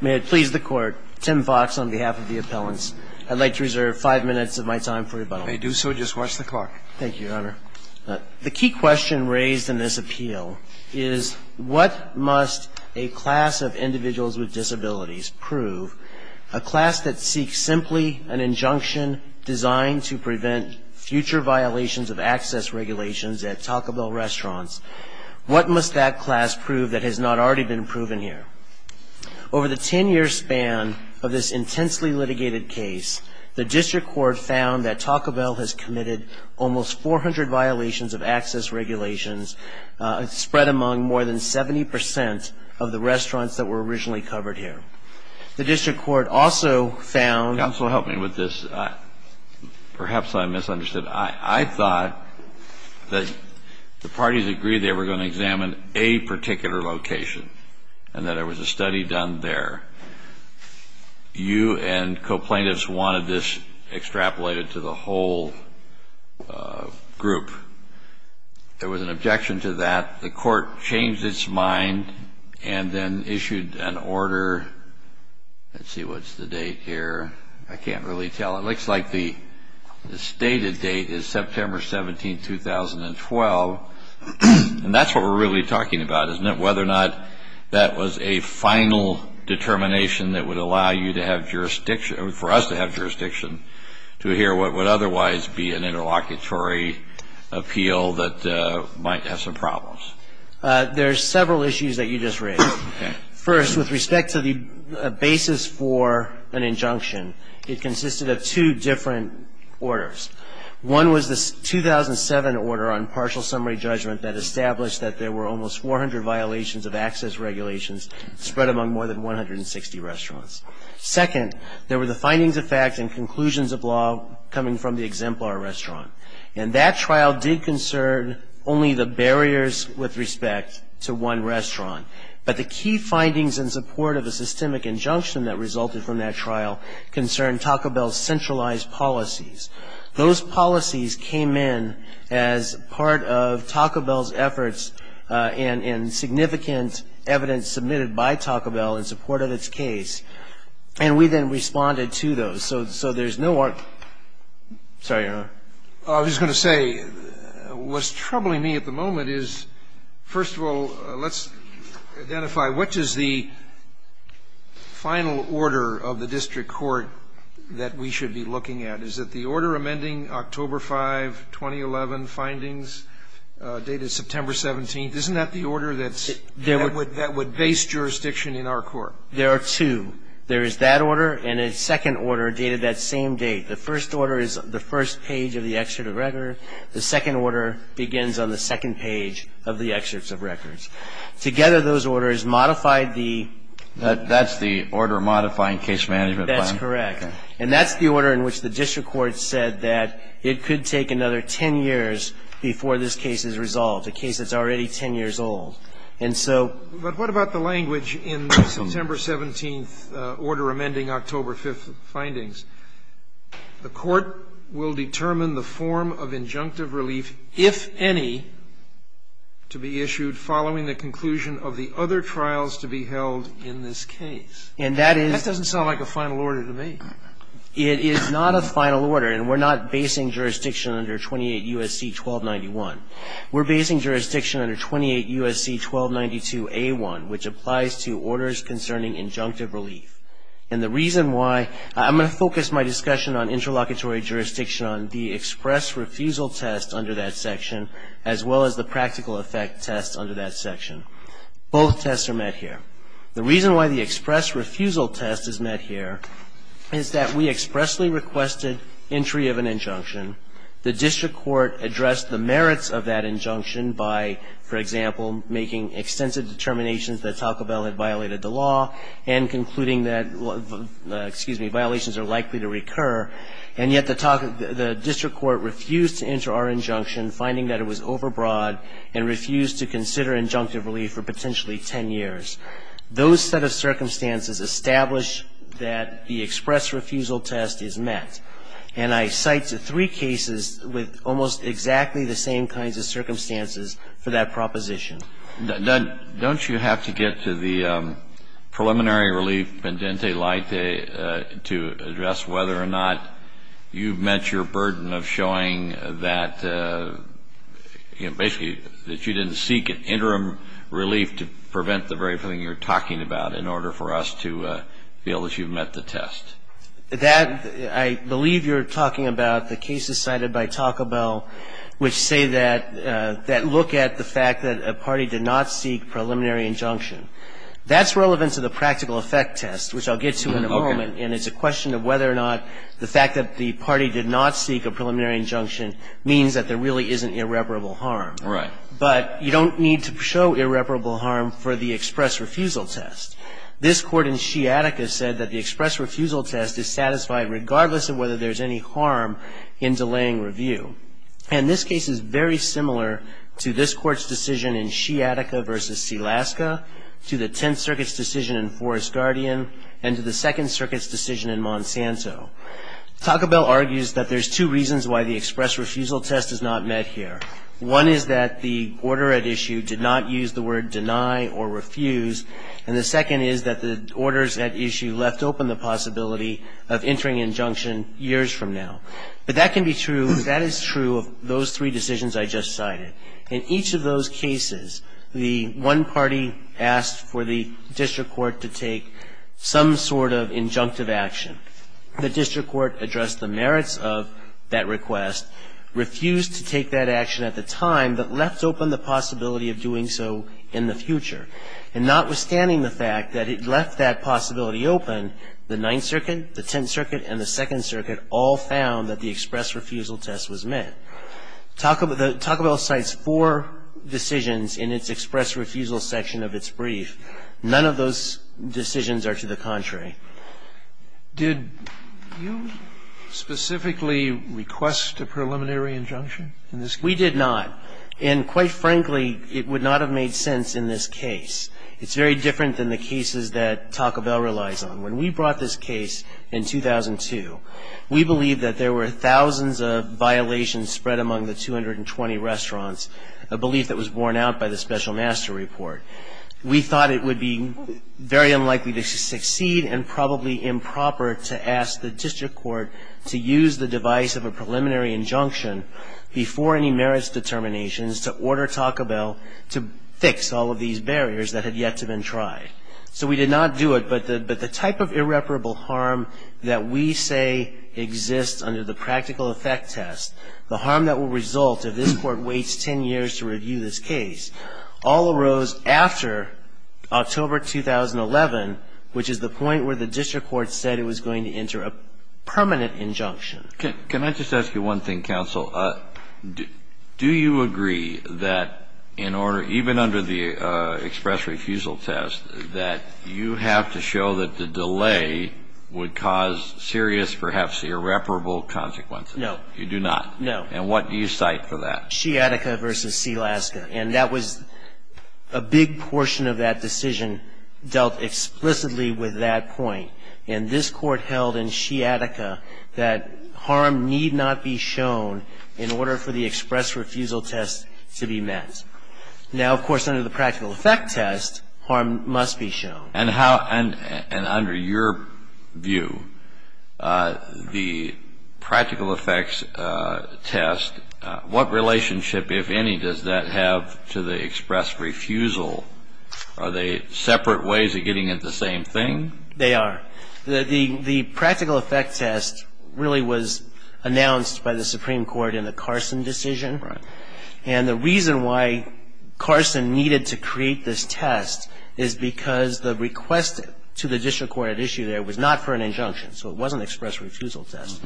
May it please the court, Tim Fox on behalf of the appellants, I'd like to reserve five minutes of my time for rebuttal. If you do so, just watch the clock. Thank you, Your Honor. The key question raised in this appeal is what must a class of individuals with disabilities prove, a class that seeks simply an injunction designed to prevent future violations of access regulations at Taco Bell restaurants, what must that class prove that has not already been proven here? Over the 10-year span of this intensely litigated case, the district court found that Taco Bell has committed almost 400 violations of access regulations spread among more than 70% of the restaurants that were originally covered here. The district court also found... Counsel, help me with this. Perhaps I misunderstood. I thought that the parties agreed they were going to examine a particular location and that there was a study done there. You and co-plaintiffs wanted this extrapolated to the whole group. There was an objection to that. The court changed its mind and then issued an order. Let's see, what's the date here? I can't really tell. It looks like the stated date is September 17, 2012. And that's what we're really talking about, isn't it, whether or not that was a final determination that would allow you to have jurisdiction, for us to have jurisdiction to hear what would otherwise be an interlocutory appeal that might have some problems. There are several issues that you just raised. First, with respect to the basis for an injunction, it consisted of two different orders. One was the 2007 order on partial summary judgment that established that there were almost 400 violations of access regulations spread among more than 160 restaurants. Second, there were the findings of fact and conclusions of law coming from the exemplar restaurant. And that trial did concern only the barriers with respect to one restaurant. But the key findings in support of the systemic injunction that resulted from that trial concerned Taco Bell's centralized policies. Those policies came in as part of Taco Bell's efforts and significant evidence submitted by Taco Bell in support of its case. And we then responded to those. So there's no art – sorry, Your Honor. Scalia. I was going to say, what's troubling me at the moment is, first of all, let's identify which is the final order of the district court that we should be looking at. Is it the order amending October 5, 2011 findings dated September 17th? Isn't that the order that's – that would base jurisdiction in our court? There are two. There is that order and a second order dated that same date. The first order is the first page of the excerpt of record. The second order begins on the second page of the excerpts of records. Together, those orders modified the – That's the order modifying case management plan? That's correct. And that's the order in which the district court said that it could take another 10 years before this case is resolved, a case that's already 10 years old. And so – But what about the language in the September 17th order amending October 5th findings? The court will determine the form of injunctive relief, if any, to be issued following the conclusion of the other trials to be held in this case. And that is – That doesn't sound like a final order to me. It is not a final order. And we're not basing jurisdiction under 28 U.S.C. 1291. We're basing jurisdiction under 28 U.S.C. 1292A1, which applies to orders concerning injunctive relief. And the reason why – I'm going to focus my discussion on interlocutory jurisdiction on the express refusal test under that section as well as the practical effect test under that section. Both tests are met here. The reason why the express refusal test is met here is that we expressly requested entry of an injunction. The district court addressed the merits of that injunction by, for example, making extensive determinations that Taco Bell had violated the law and concluding that violations are likely to recur. And yet the district court refused to enter our injunction, finding that it was overbroad and refused to consider injunctive relief for potentially 10 years. Those set of circumstances establish that the express refusal test is met. And I cite three cases with almost exactly the same kinds of circumstances for that proposition. Don't you have to get to the preliminary relief pendente lite to address whether or not you've met your burden of showing that, you know, basically that you didn't seek an interim relief to prevent the very thing you're talking about in order for us to feel that you've met the test? That, I believe you're talking about the cases cited by Taco Bell which say that that look at the fact that a party did not seek preliminary injunction. That's relevant to the practical effect test, which I'll get to in a moment. And it's a question of whether or not the fact that the party did not seek a preliminary injunction means that there really isn't irreparable harm. But you don't need to show irreparable harm for the express refusal test. This court in Sciatica said that the express refusal test is satisfied regardless of whether there's any harm in delaying review. And this case is very similar to this court's decision in Sciatica versus Selaska, to the Tenth Circuit's decision in Forest Guardian, and to the Second Circuit's decision in Monsanto. Taco Bell argues that there's two reasons why the express refusal test is not met here. One is that the order at issue did not use the word deny or refuse. And the second is that the orders at issue left open the possibility of entering injunction years from now. But that can be true. That is true of those three decisions I just cited. In each of those cases, the one party asked for the district court to take some sort of injunctive action. The district court addressed the merits of that request, refused to take that action at the time, but left open the possibility of doing so in the future. And notwithstanding the fact that it left that possibility open, the Ninth Circuit, the Tenth Circuit, and the Second Circuit all found that the express refusal test was met. Taco Bell cites four decisions in its express refusal section of its brief. None of those decisions are to the contrary. Sotomayor did you specifically request a preliminary injunction in this case? We did not. And quite frankly, it would not have made sense in this case. It's very different than the cases that Taco Bell relies on. When we brought this case in 2002, we believed that there were thousands of violations spread among the 220 restaurants, a belief that was borne out by the special master report. We thought it would be very unlikely to succeed and probably improper to ask the district court to use the device of a preliminary injunction before any merits determinations to order Taco Bell to fix all of these barriers that had yet to been tried. So we did not do it, but the type of irreparable harm that we say exists under the practical effect test, the harm that will result if this court waits 10 years to review this case, all arose after October 2011, which is the point where the district court said it was going to enter a permanent injunction. Can I just ask you one thing, counsel? Do you agree that in order, even under the express refusal test, that you have to show that the delay would cause serious, perhaps irreparable consequences? No. You do not? No. And what do you cite for that? Sciatica v. Sealaska. And that was a big portion of that decision dealt explicitly with that point. And this court held in Sciatica that harm need not be shown in order for the express refusal test to be met. Now, of course, under the practical effect test, harm must be shown. And under your view, the practical effects test, what relationship, if any, does that have to the express refusal? Are they separate ways of getting at the same thing? They are. The practical effect test really was announced by the Supreme Court in the Carson decision. Right. And the reason why Carson needed to create this test is because the request to the district court at issue there was not for an injunction. So it wasn't an express refusal test.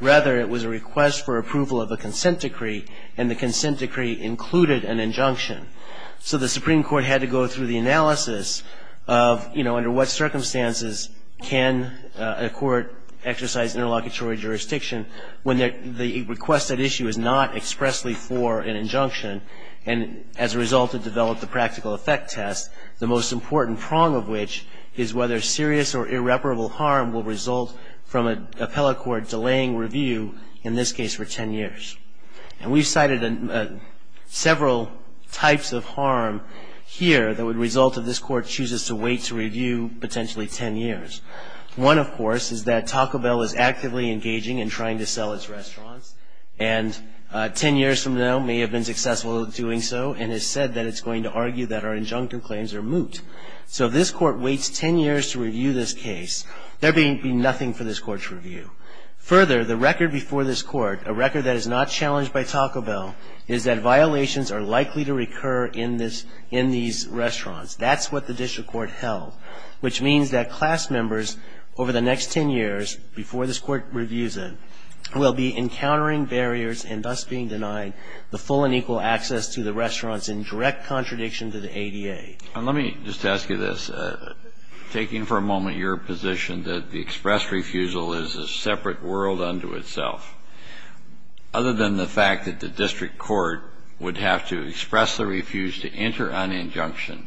Rather, it was a request for approval of a consent decree, and the consent decree included an injunction. So the Supreme Court had to go through the analysis of, you know, under what circumstances can a court exercise interlocutory jurisdiction when the request at issue is not expressly for an injunction, and as a result it developed the practical effect test, the most important prong of which is whether serious or irreparable harm will result from an appellate court delaying review, in this case for 10 years. And we've cited several types of harm here that would result if this court chooses to wait to review potentially 10 years. One, of course, is that Taco Bell is actively engaging in trying to sell its restaurants, and 10 years from now may have been successful in doing so and has said that it's going to argue that our injunction claims are moot. So if this court waits 10 years to review this case, there'd be nothing for this court to review. Further, the record before this court, a record that is not challenged by Taco Bell, is that violations are likely to recur in these restaurants. That's what the district court held, which means that class members over the next 10 years, before this court reviews it, will be encountering barriers and thus being denied the full and equal access to the restaurants in direct contradiction to the ADA. And let me just ask you this. Taking for a moment your position that the express refusal is a separate world unto itself, other than the fact that the district court would have to express the refuse to enter an injunction,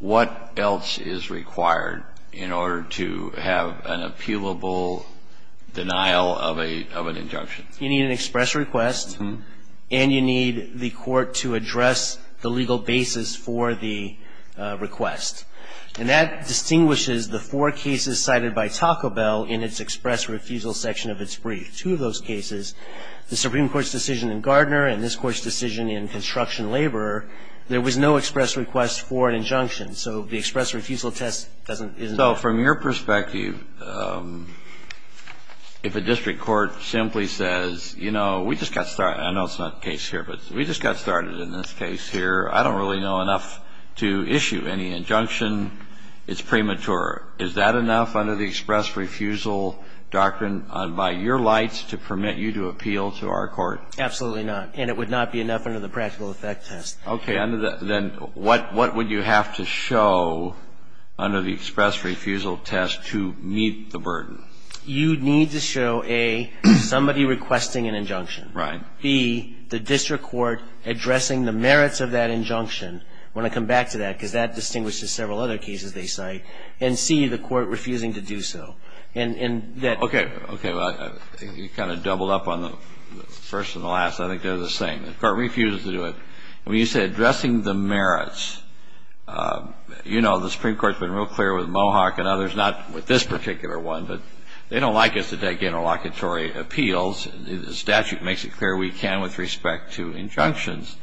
what else is required in order to have an appealable denial of a – of an injunction? You need an express request and you need the court to address the legal basis for the request. And that distinguishes the four cases cited by Taco Bell in its express refusal section of its brief. Two of those cases, the Supreme Court's decision in Gardner and this Court's decision in Construction Laborer, there was no express request for an injunction. So the express refusal test doesn't – isn't – It's premature. Is that enough under the express refusal doctrine by your lights to permit you to appeal to our court? Absolutely not. And it would not be enough under the practical effect test. Okay. Under the – then what – what would you have to show under the express refusal test You need to show, A, somebody requesting an injunction. Right. B, the district court addressing the merits of that injunction. I want to come back to that because that distinguishes several other cases they cite. And C, the court refusing to do so. And that – Okay. Okay. Well, you kind of doubled up on the first and the last. I think they're the same. The court refuses to do it. When you say addressing the merits, you know the Supreme Court's been real clear with Mohawk and others, not with this particular one, but they don't like us to take interlocutory appeals. The statute makes it clear we can with respect to injunctions.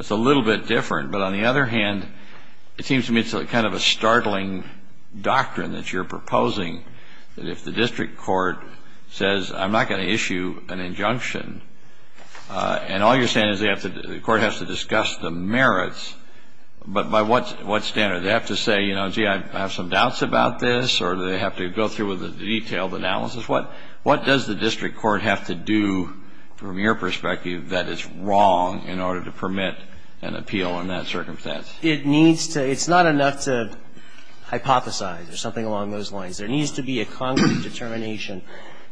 It's a little bit different. But on the other hand, it seems to me it's kind of a startling doctrine that you're proposing, that if the district court says, I'm not going to issue an injunction, and all you're saying is the court has to discuss the merits, but by what standard? Do they have to say, you know, gee, I have some doubts about this, or do they have to go through with a detailed analysis? What does the district court have to do, from your perspective, that is wrong in order to permit an appeal in that circumstance? It needs to – it's not enough to hypothesize or something along those lines. There needs to be a concrete determination.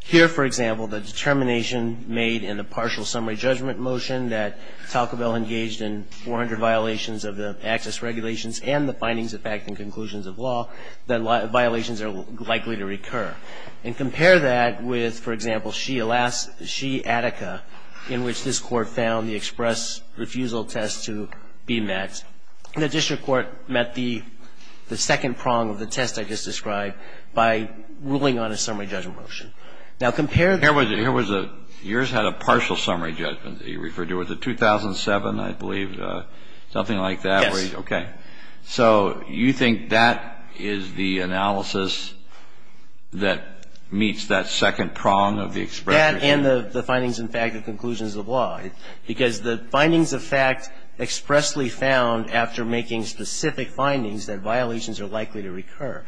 Here, for example, the determination made in the partial summary judgment motion that Talcobel engaged in 400 violations of the access regulations and the findings of fact and conclusions of law, that violations are likely to recur. And compare that with, for example, Shea Attica, in which this Court found the express refusal test to be met. The district court met the second prong of the test I just described by ruling on a summary judgment motion. Now, compare the – Was it 2007, I believe, something like that? Yes. Okay. So you think that is the analysis that meets that second prong of the express refusal? That and the findings and fact and conclusions of law. Because the findings of fact expressly found after making specific findings that violations are likely to recur.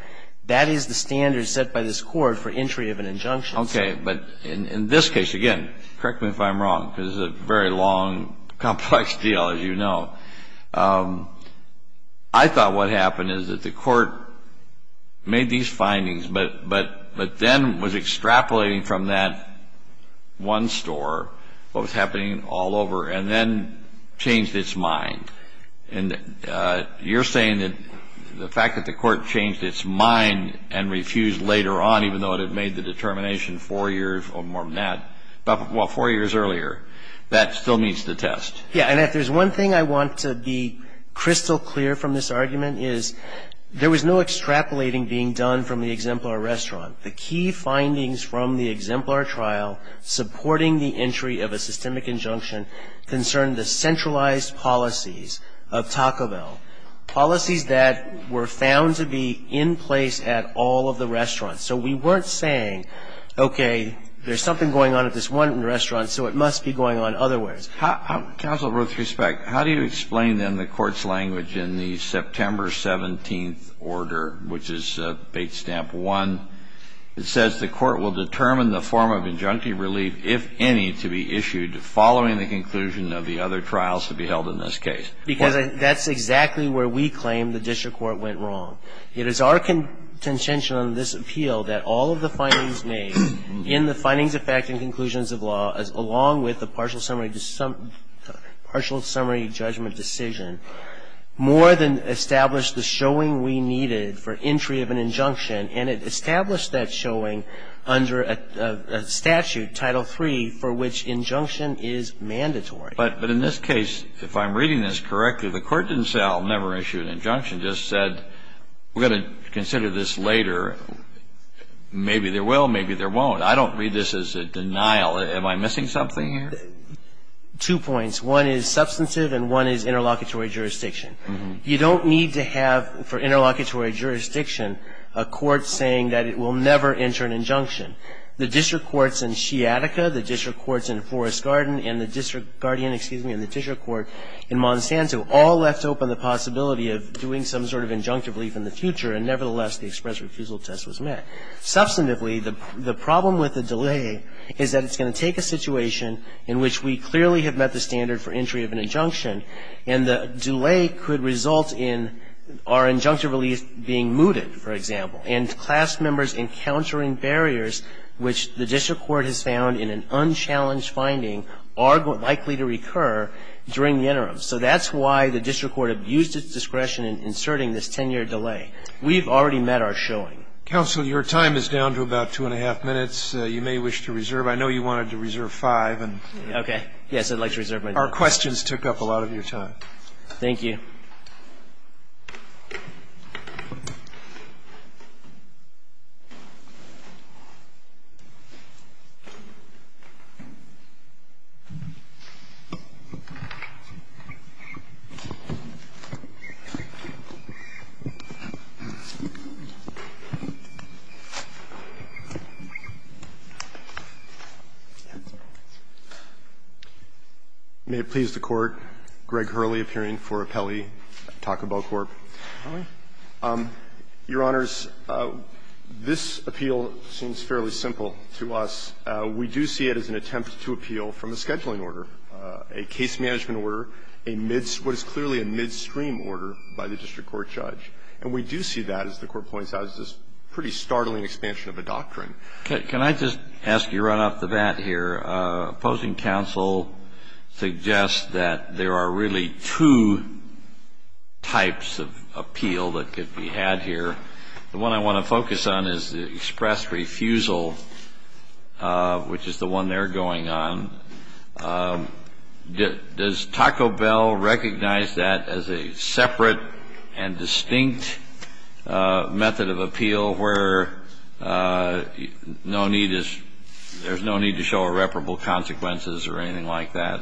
That is the standard set by this Court for entry of an injunction. Okay. But in this case, again, correct me if I'm wrong because this is a very long, complex deal, as you know. I thought what happened is that the Court made these findings, but then was extrapolating from that one store what was happening all over and then changed its mind. And you're saying that the fact that the Court changed its mind and refused later on, even though it had made the determination four years or more than that, well, four years earlier, that still meets the test? Yes. And if there's one thing I want to be crystal clear from this argument is there was no extrapolating being done from the exemplar restaurant. The key findings from the exemplar trial supporting the entry of a systemic injunction concerned the centralized policies of Taco Bell, policies that were found to be in place at all of the restaurants. So we weren't saying, okay, there's something going on at this one restaurant, so it must be going on otherwise. Counsel, with respect, how do you explain then the Court's language in the September 17th order, which is Bate Stamp 1? It says the Court will determine the form of injunctive relief, if any, to be issued following the conclusion of the other trials to be held in this case. Because that's exactly where we claim the district court went wrong. It is our contention on this appeal that all of the findings made in the findings of fact and conclusions of law, along with the partial summary judgment decision, more than established the showing we needed for entry of an injunction, and it established that showing under a statute, Title III, for which injunction is mandatory. But in this case, if I'm reading this correctly, the Court didn't say I'll never issue an injunction, just said we're going to consider this later. Maybe there will, maybe there won't. I don't read this as a denial. Am I missing something here? Two points. One is substantive, and one is interlocutory jurisdiction. You don't need to have, for interlocutory jurisdiction, a court saying that it will never enter an injunction. The district courts in Sciatica, the district courts in Forest Garden, and the district court in Monsanto all left open the possibility of doing some sort of injunctive relief in the future, and nevertheless, the express refusal test was met. Substantively, the problem with the delay is that it's going to take a situation in which we clearly have met the standard for entry of an injunction, and the delay could result in our injunctive relief being mooted, for example, and class members encountering barriers which the district court has found in an unchallenged finding are likely to recur during the interim. So that's why the district court abused its discretion in inserting this ten-year delay. We've already met our showing. Counsel, your time is down to about two and a half minutes. You may wish to reserve. I know you wanted to reserve five. Okay. Yes, I'd like to reserve my time. Our questions took up a lot of your time. Thank you. May it please the Court. Greg Hurley appearing for Appellee. Talk about court. Your Honors, this appeal seems fairly simple to us. We do see it as an attempt to appeal from a scheduling order, a case management order, what is clearly a midstream order by the district court judge. And we do see that, as the Court points out, as this pretty startling expansion of a doctrine. Can I just ask you right off the bat here? Opposing counsel suggests that there are really two types of appeal that could be had here. The one I want to focus on is the express refusal, which is the one they're going on. Does Taco Bell recognize that as a separate and distinct method of appeal where no need is ‑‑ there's no need to show irreparable consequences or anything like that?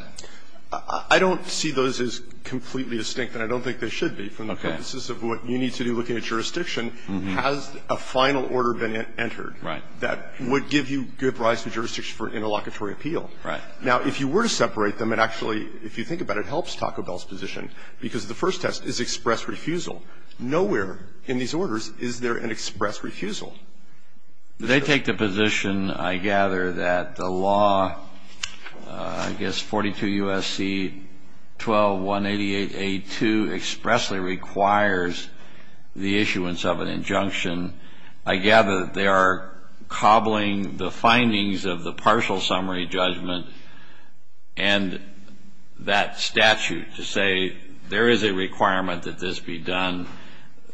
I don't see those as completely distinct, and I don't think they should be, from the purposes of what you need to do looking at jurisdiction. Has a final order been entered that would give you good rise to jurisdiction for interlocutory appeal? Right. Now, if you were to separate them, and actually, if you think about it, it helps Taco Bell's position, because the first test is express refusal. Nowhere in these orders is there an express refusal. They take the position, I gather, that the law, I guess 42 U.S.C. 12188A2 expressly requires the issuance of an injunction. I gather they are cobbling the findings of the partial summary judgment and that statute to say there is a requirement that this be done.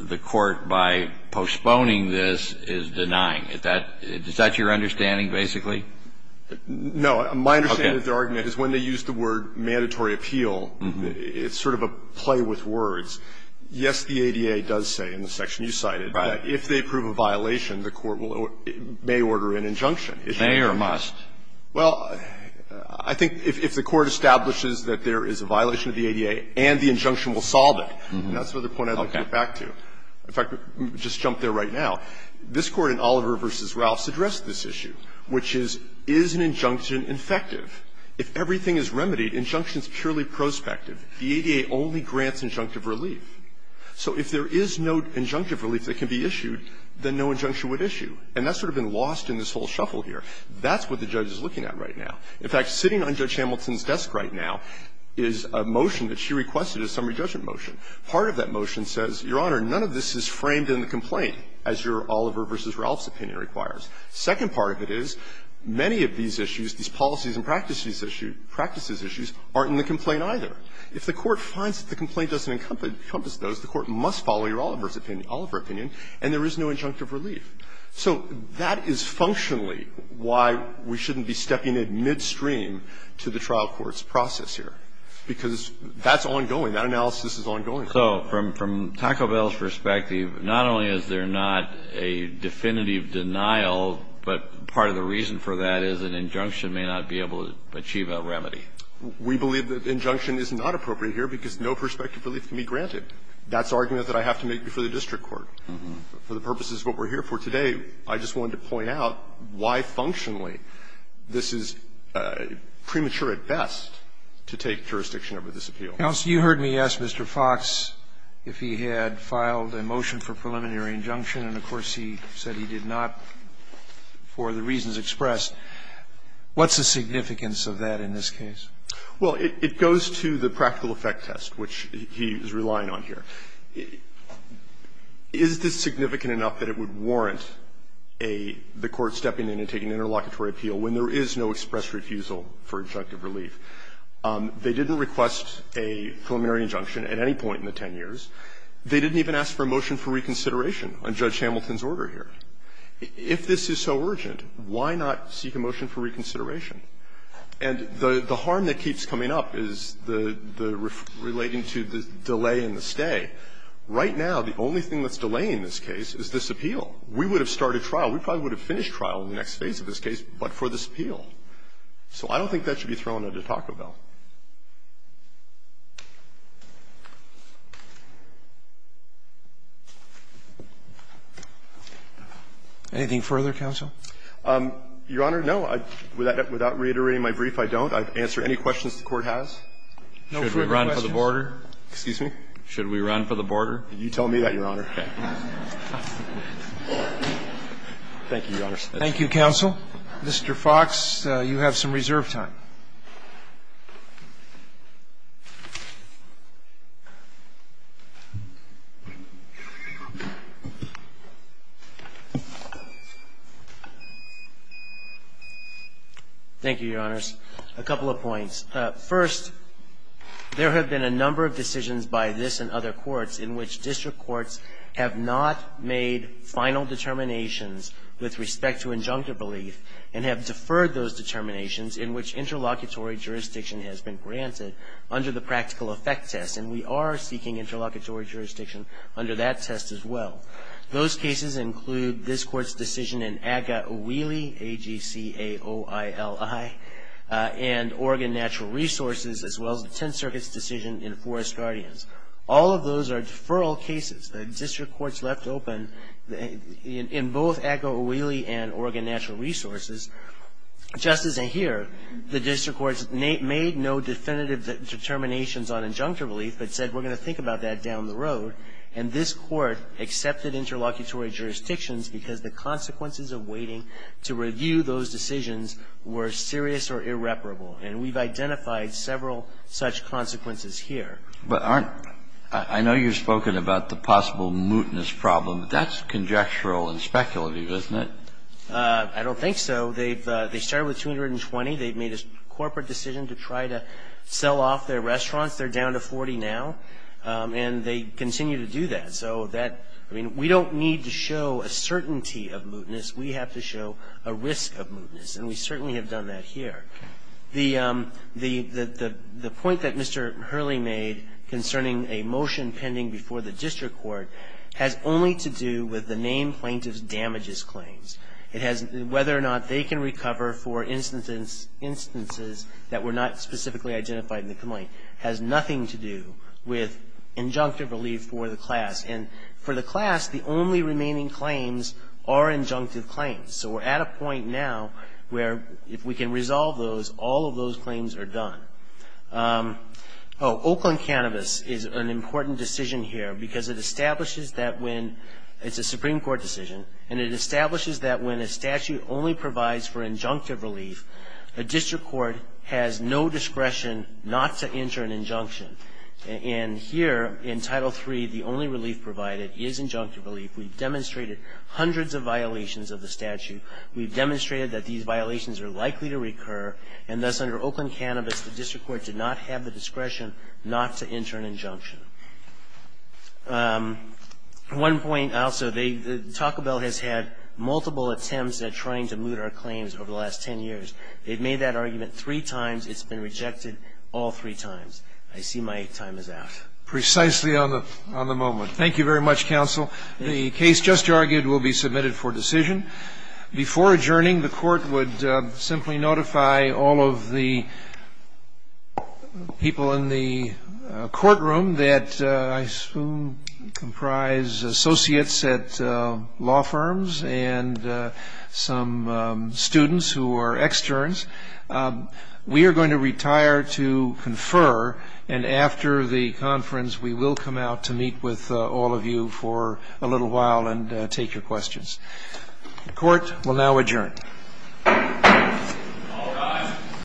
The court, by postponing this, is denying. Is that your understanding, basically? No. My understanding of their argument is when they use the word mandatory appeal, it's sort of a play with words. Yes, the ADA does say, in the section you cited, that if they prove a violation, the court may order an injunction. It may or must. Well, I think if the court establishes that there is a violation of the ADA and the injunction will solve it, that's another point I'd like to get back to. In fact, just jump there right now. This Court in Oliver v. Ralphs addressed this issue, which is, is an injunction If everything is remedied, injunction is purely prospective. The ADA only grants injunctive relief. So if there is no injunctive relief that can be issued, then no injunction would issue. And that's sort of been lost in this whole shuffle here. That's what the judge is looking at right now. In fact, sitting on Judge Hamilton's desk right now is a motion that she requested as summary judgment motion. Part of that motion says, Your Honor, none of this is framed in the complaint, as your Oliver v. Ralphs opinion requires. Second part of it is, many of these issues, these policies and practices issues, aren't in the complaint either. If the court finds that the complaint doesn't encompass those, the court must follow your Oliver's opinion, Oliver opinion, and there is no injunctive relief. So that is functionally why we shouldn't be stepping in midstream to the trial court's process here, because that's ongoing. That analysis is ongoing. Kennedy. So from Taco Bell's perspective, not only is there not a definitive denial, but part of the reason for that is an injunction may not be able to achieve a remedy. We believe that injunction is not appropriate here because no prospective relief can be granted. That's the argument that I have to make before the district court. For the purposes of what we're here for today, I just wanted to point out why functionally this is premature at best to take jurisdiction over this appeal. Roberts. You heard me ask Mr. Fox if he had filed a motion for preliminary injunction, and, of course, he said he did not for the reasons expressed. What's the significance of that in this case? Well, it goes to the practical effect test, which he is relying on here. Is this significant enough that it would warrant a the court stepping in and taking an interlocutory appeal when there is no express refusal for injunctive relief? They didn't request a preliminary injunction at any point in the 10 years. They didn't even ask for a motion for reconsideration on Judge Hamilton's order here. If this is so urgent, why not seek a motion for reconsideration? And the harm that keeps coming up is the relating to the delay in the stay. Right now, the only thing that's delaying this case is this appeal. We would have started trial. We probably would have finished trial in the next phase of this case, but for this appeal. So I don't think that should be thrown under the Taco Bell. Anything further, counsel? Your Honor, no. Without reiterating my brief, I don't. I've answered any questions the Court has. Should we run for the border? Excuse me? Should we run for the border? Thank you, Your Honor. Thank you, counsel. Mr. Fox, you have some reserve time. Thank you, Your Honors. A couple of points. First, there have been a number of decisions by this and other courts in which district courts have not made final determinations with respect to injunctive belief and have deferred those determinations in which interlocutory jurisdiction has been granted under the practical effect test. And we are seeking interlocutory jurisdiction under that test as well. Those cases include this Court's decision in AGA O'Whealy, A-G-C-A-O-I-L-I, and Oregon Natural Resources, as well as the Tenth Circuit's decision in Forest Guardians. All of those are deferral cases that district courts left open in both AGA O'Whealy and Oregon Natural Resources. Justice Ahear, the district courts made no definitive determinations on injunctive belief, but said, we're going to think about that down the road. And this Court accepted interlocutory jurisdictions because the consequences of waiting to review those decisions were serious or irreparable. And we've identified several such consequences here. But aren't – I know you've spoken about the possible mootness problem. That's conjectural and speculative, isn't it? I don't think so. They've – they started with 220. They've made a corporate decision to try to sell off their restaurants. They're down to 40 now. And they continue to do that. So that – I mean, we don't need to show a certainty of mootness. We have to show a risk of mootness. And we certainly have done that here. The – the point that Mr. Hurley made concerning a motion pending before the district court has only to do with the name plaintiff's damages claims. It has – whether or not they can recover for instances that were not specifically identified in the complaint has nothing to do with injunctive relief for the class. And for the class, the only remaining claims are injunctive claims. So we're at a point now where if we can resolve those, all of those claims are done. Oh, Oakland Cannabis is an important decision here because it establishes that when – it's a Supreme Court decision. And it establishes that when a statute only provides for injunctive relief, a district court has no discretion not to enter an injunction. And here, in Title III, the only relief provided is injunctive relief. We've demonstrated hundreds of violations of the statute. We've demonstrated that these violations are likely to recur. And thus, under Oakland Cannabis, the district court did not have the discretion not to enter an injunction. One point also, they – Taco Bell has had multiple attempts at trying to moot our claims over the last 10 years. They've made that argument three times. It's been rejected all three times. I see my time is out. Precisely on the – on the moment. Thank you very much, counsel. The case just argued will be submitted for decision. Before adjourning, the court would simply notify all of the people in the courtroom that I assume comprise associates at law firms and some students who are externs. We are going to retire to confer. And after the conference, we will come out to meet with all of you for a little while and take your questions. The court will now adjourn.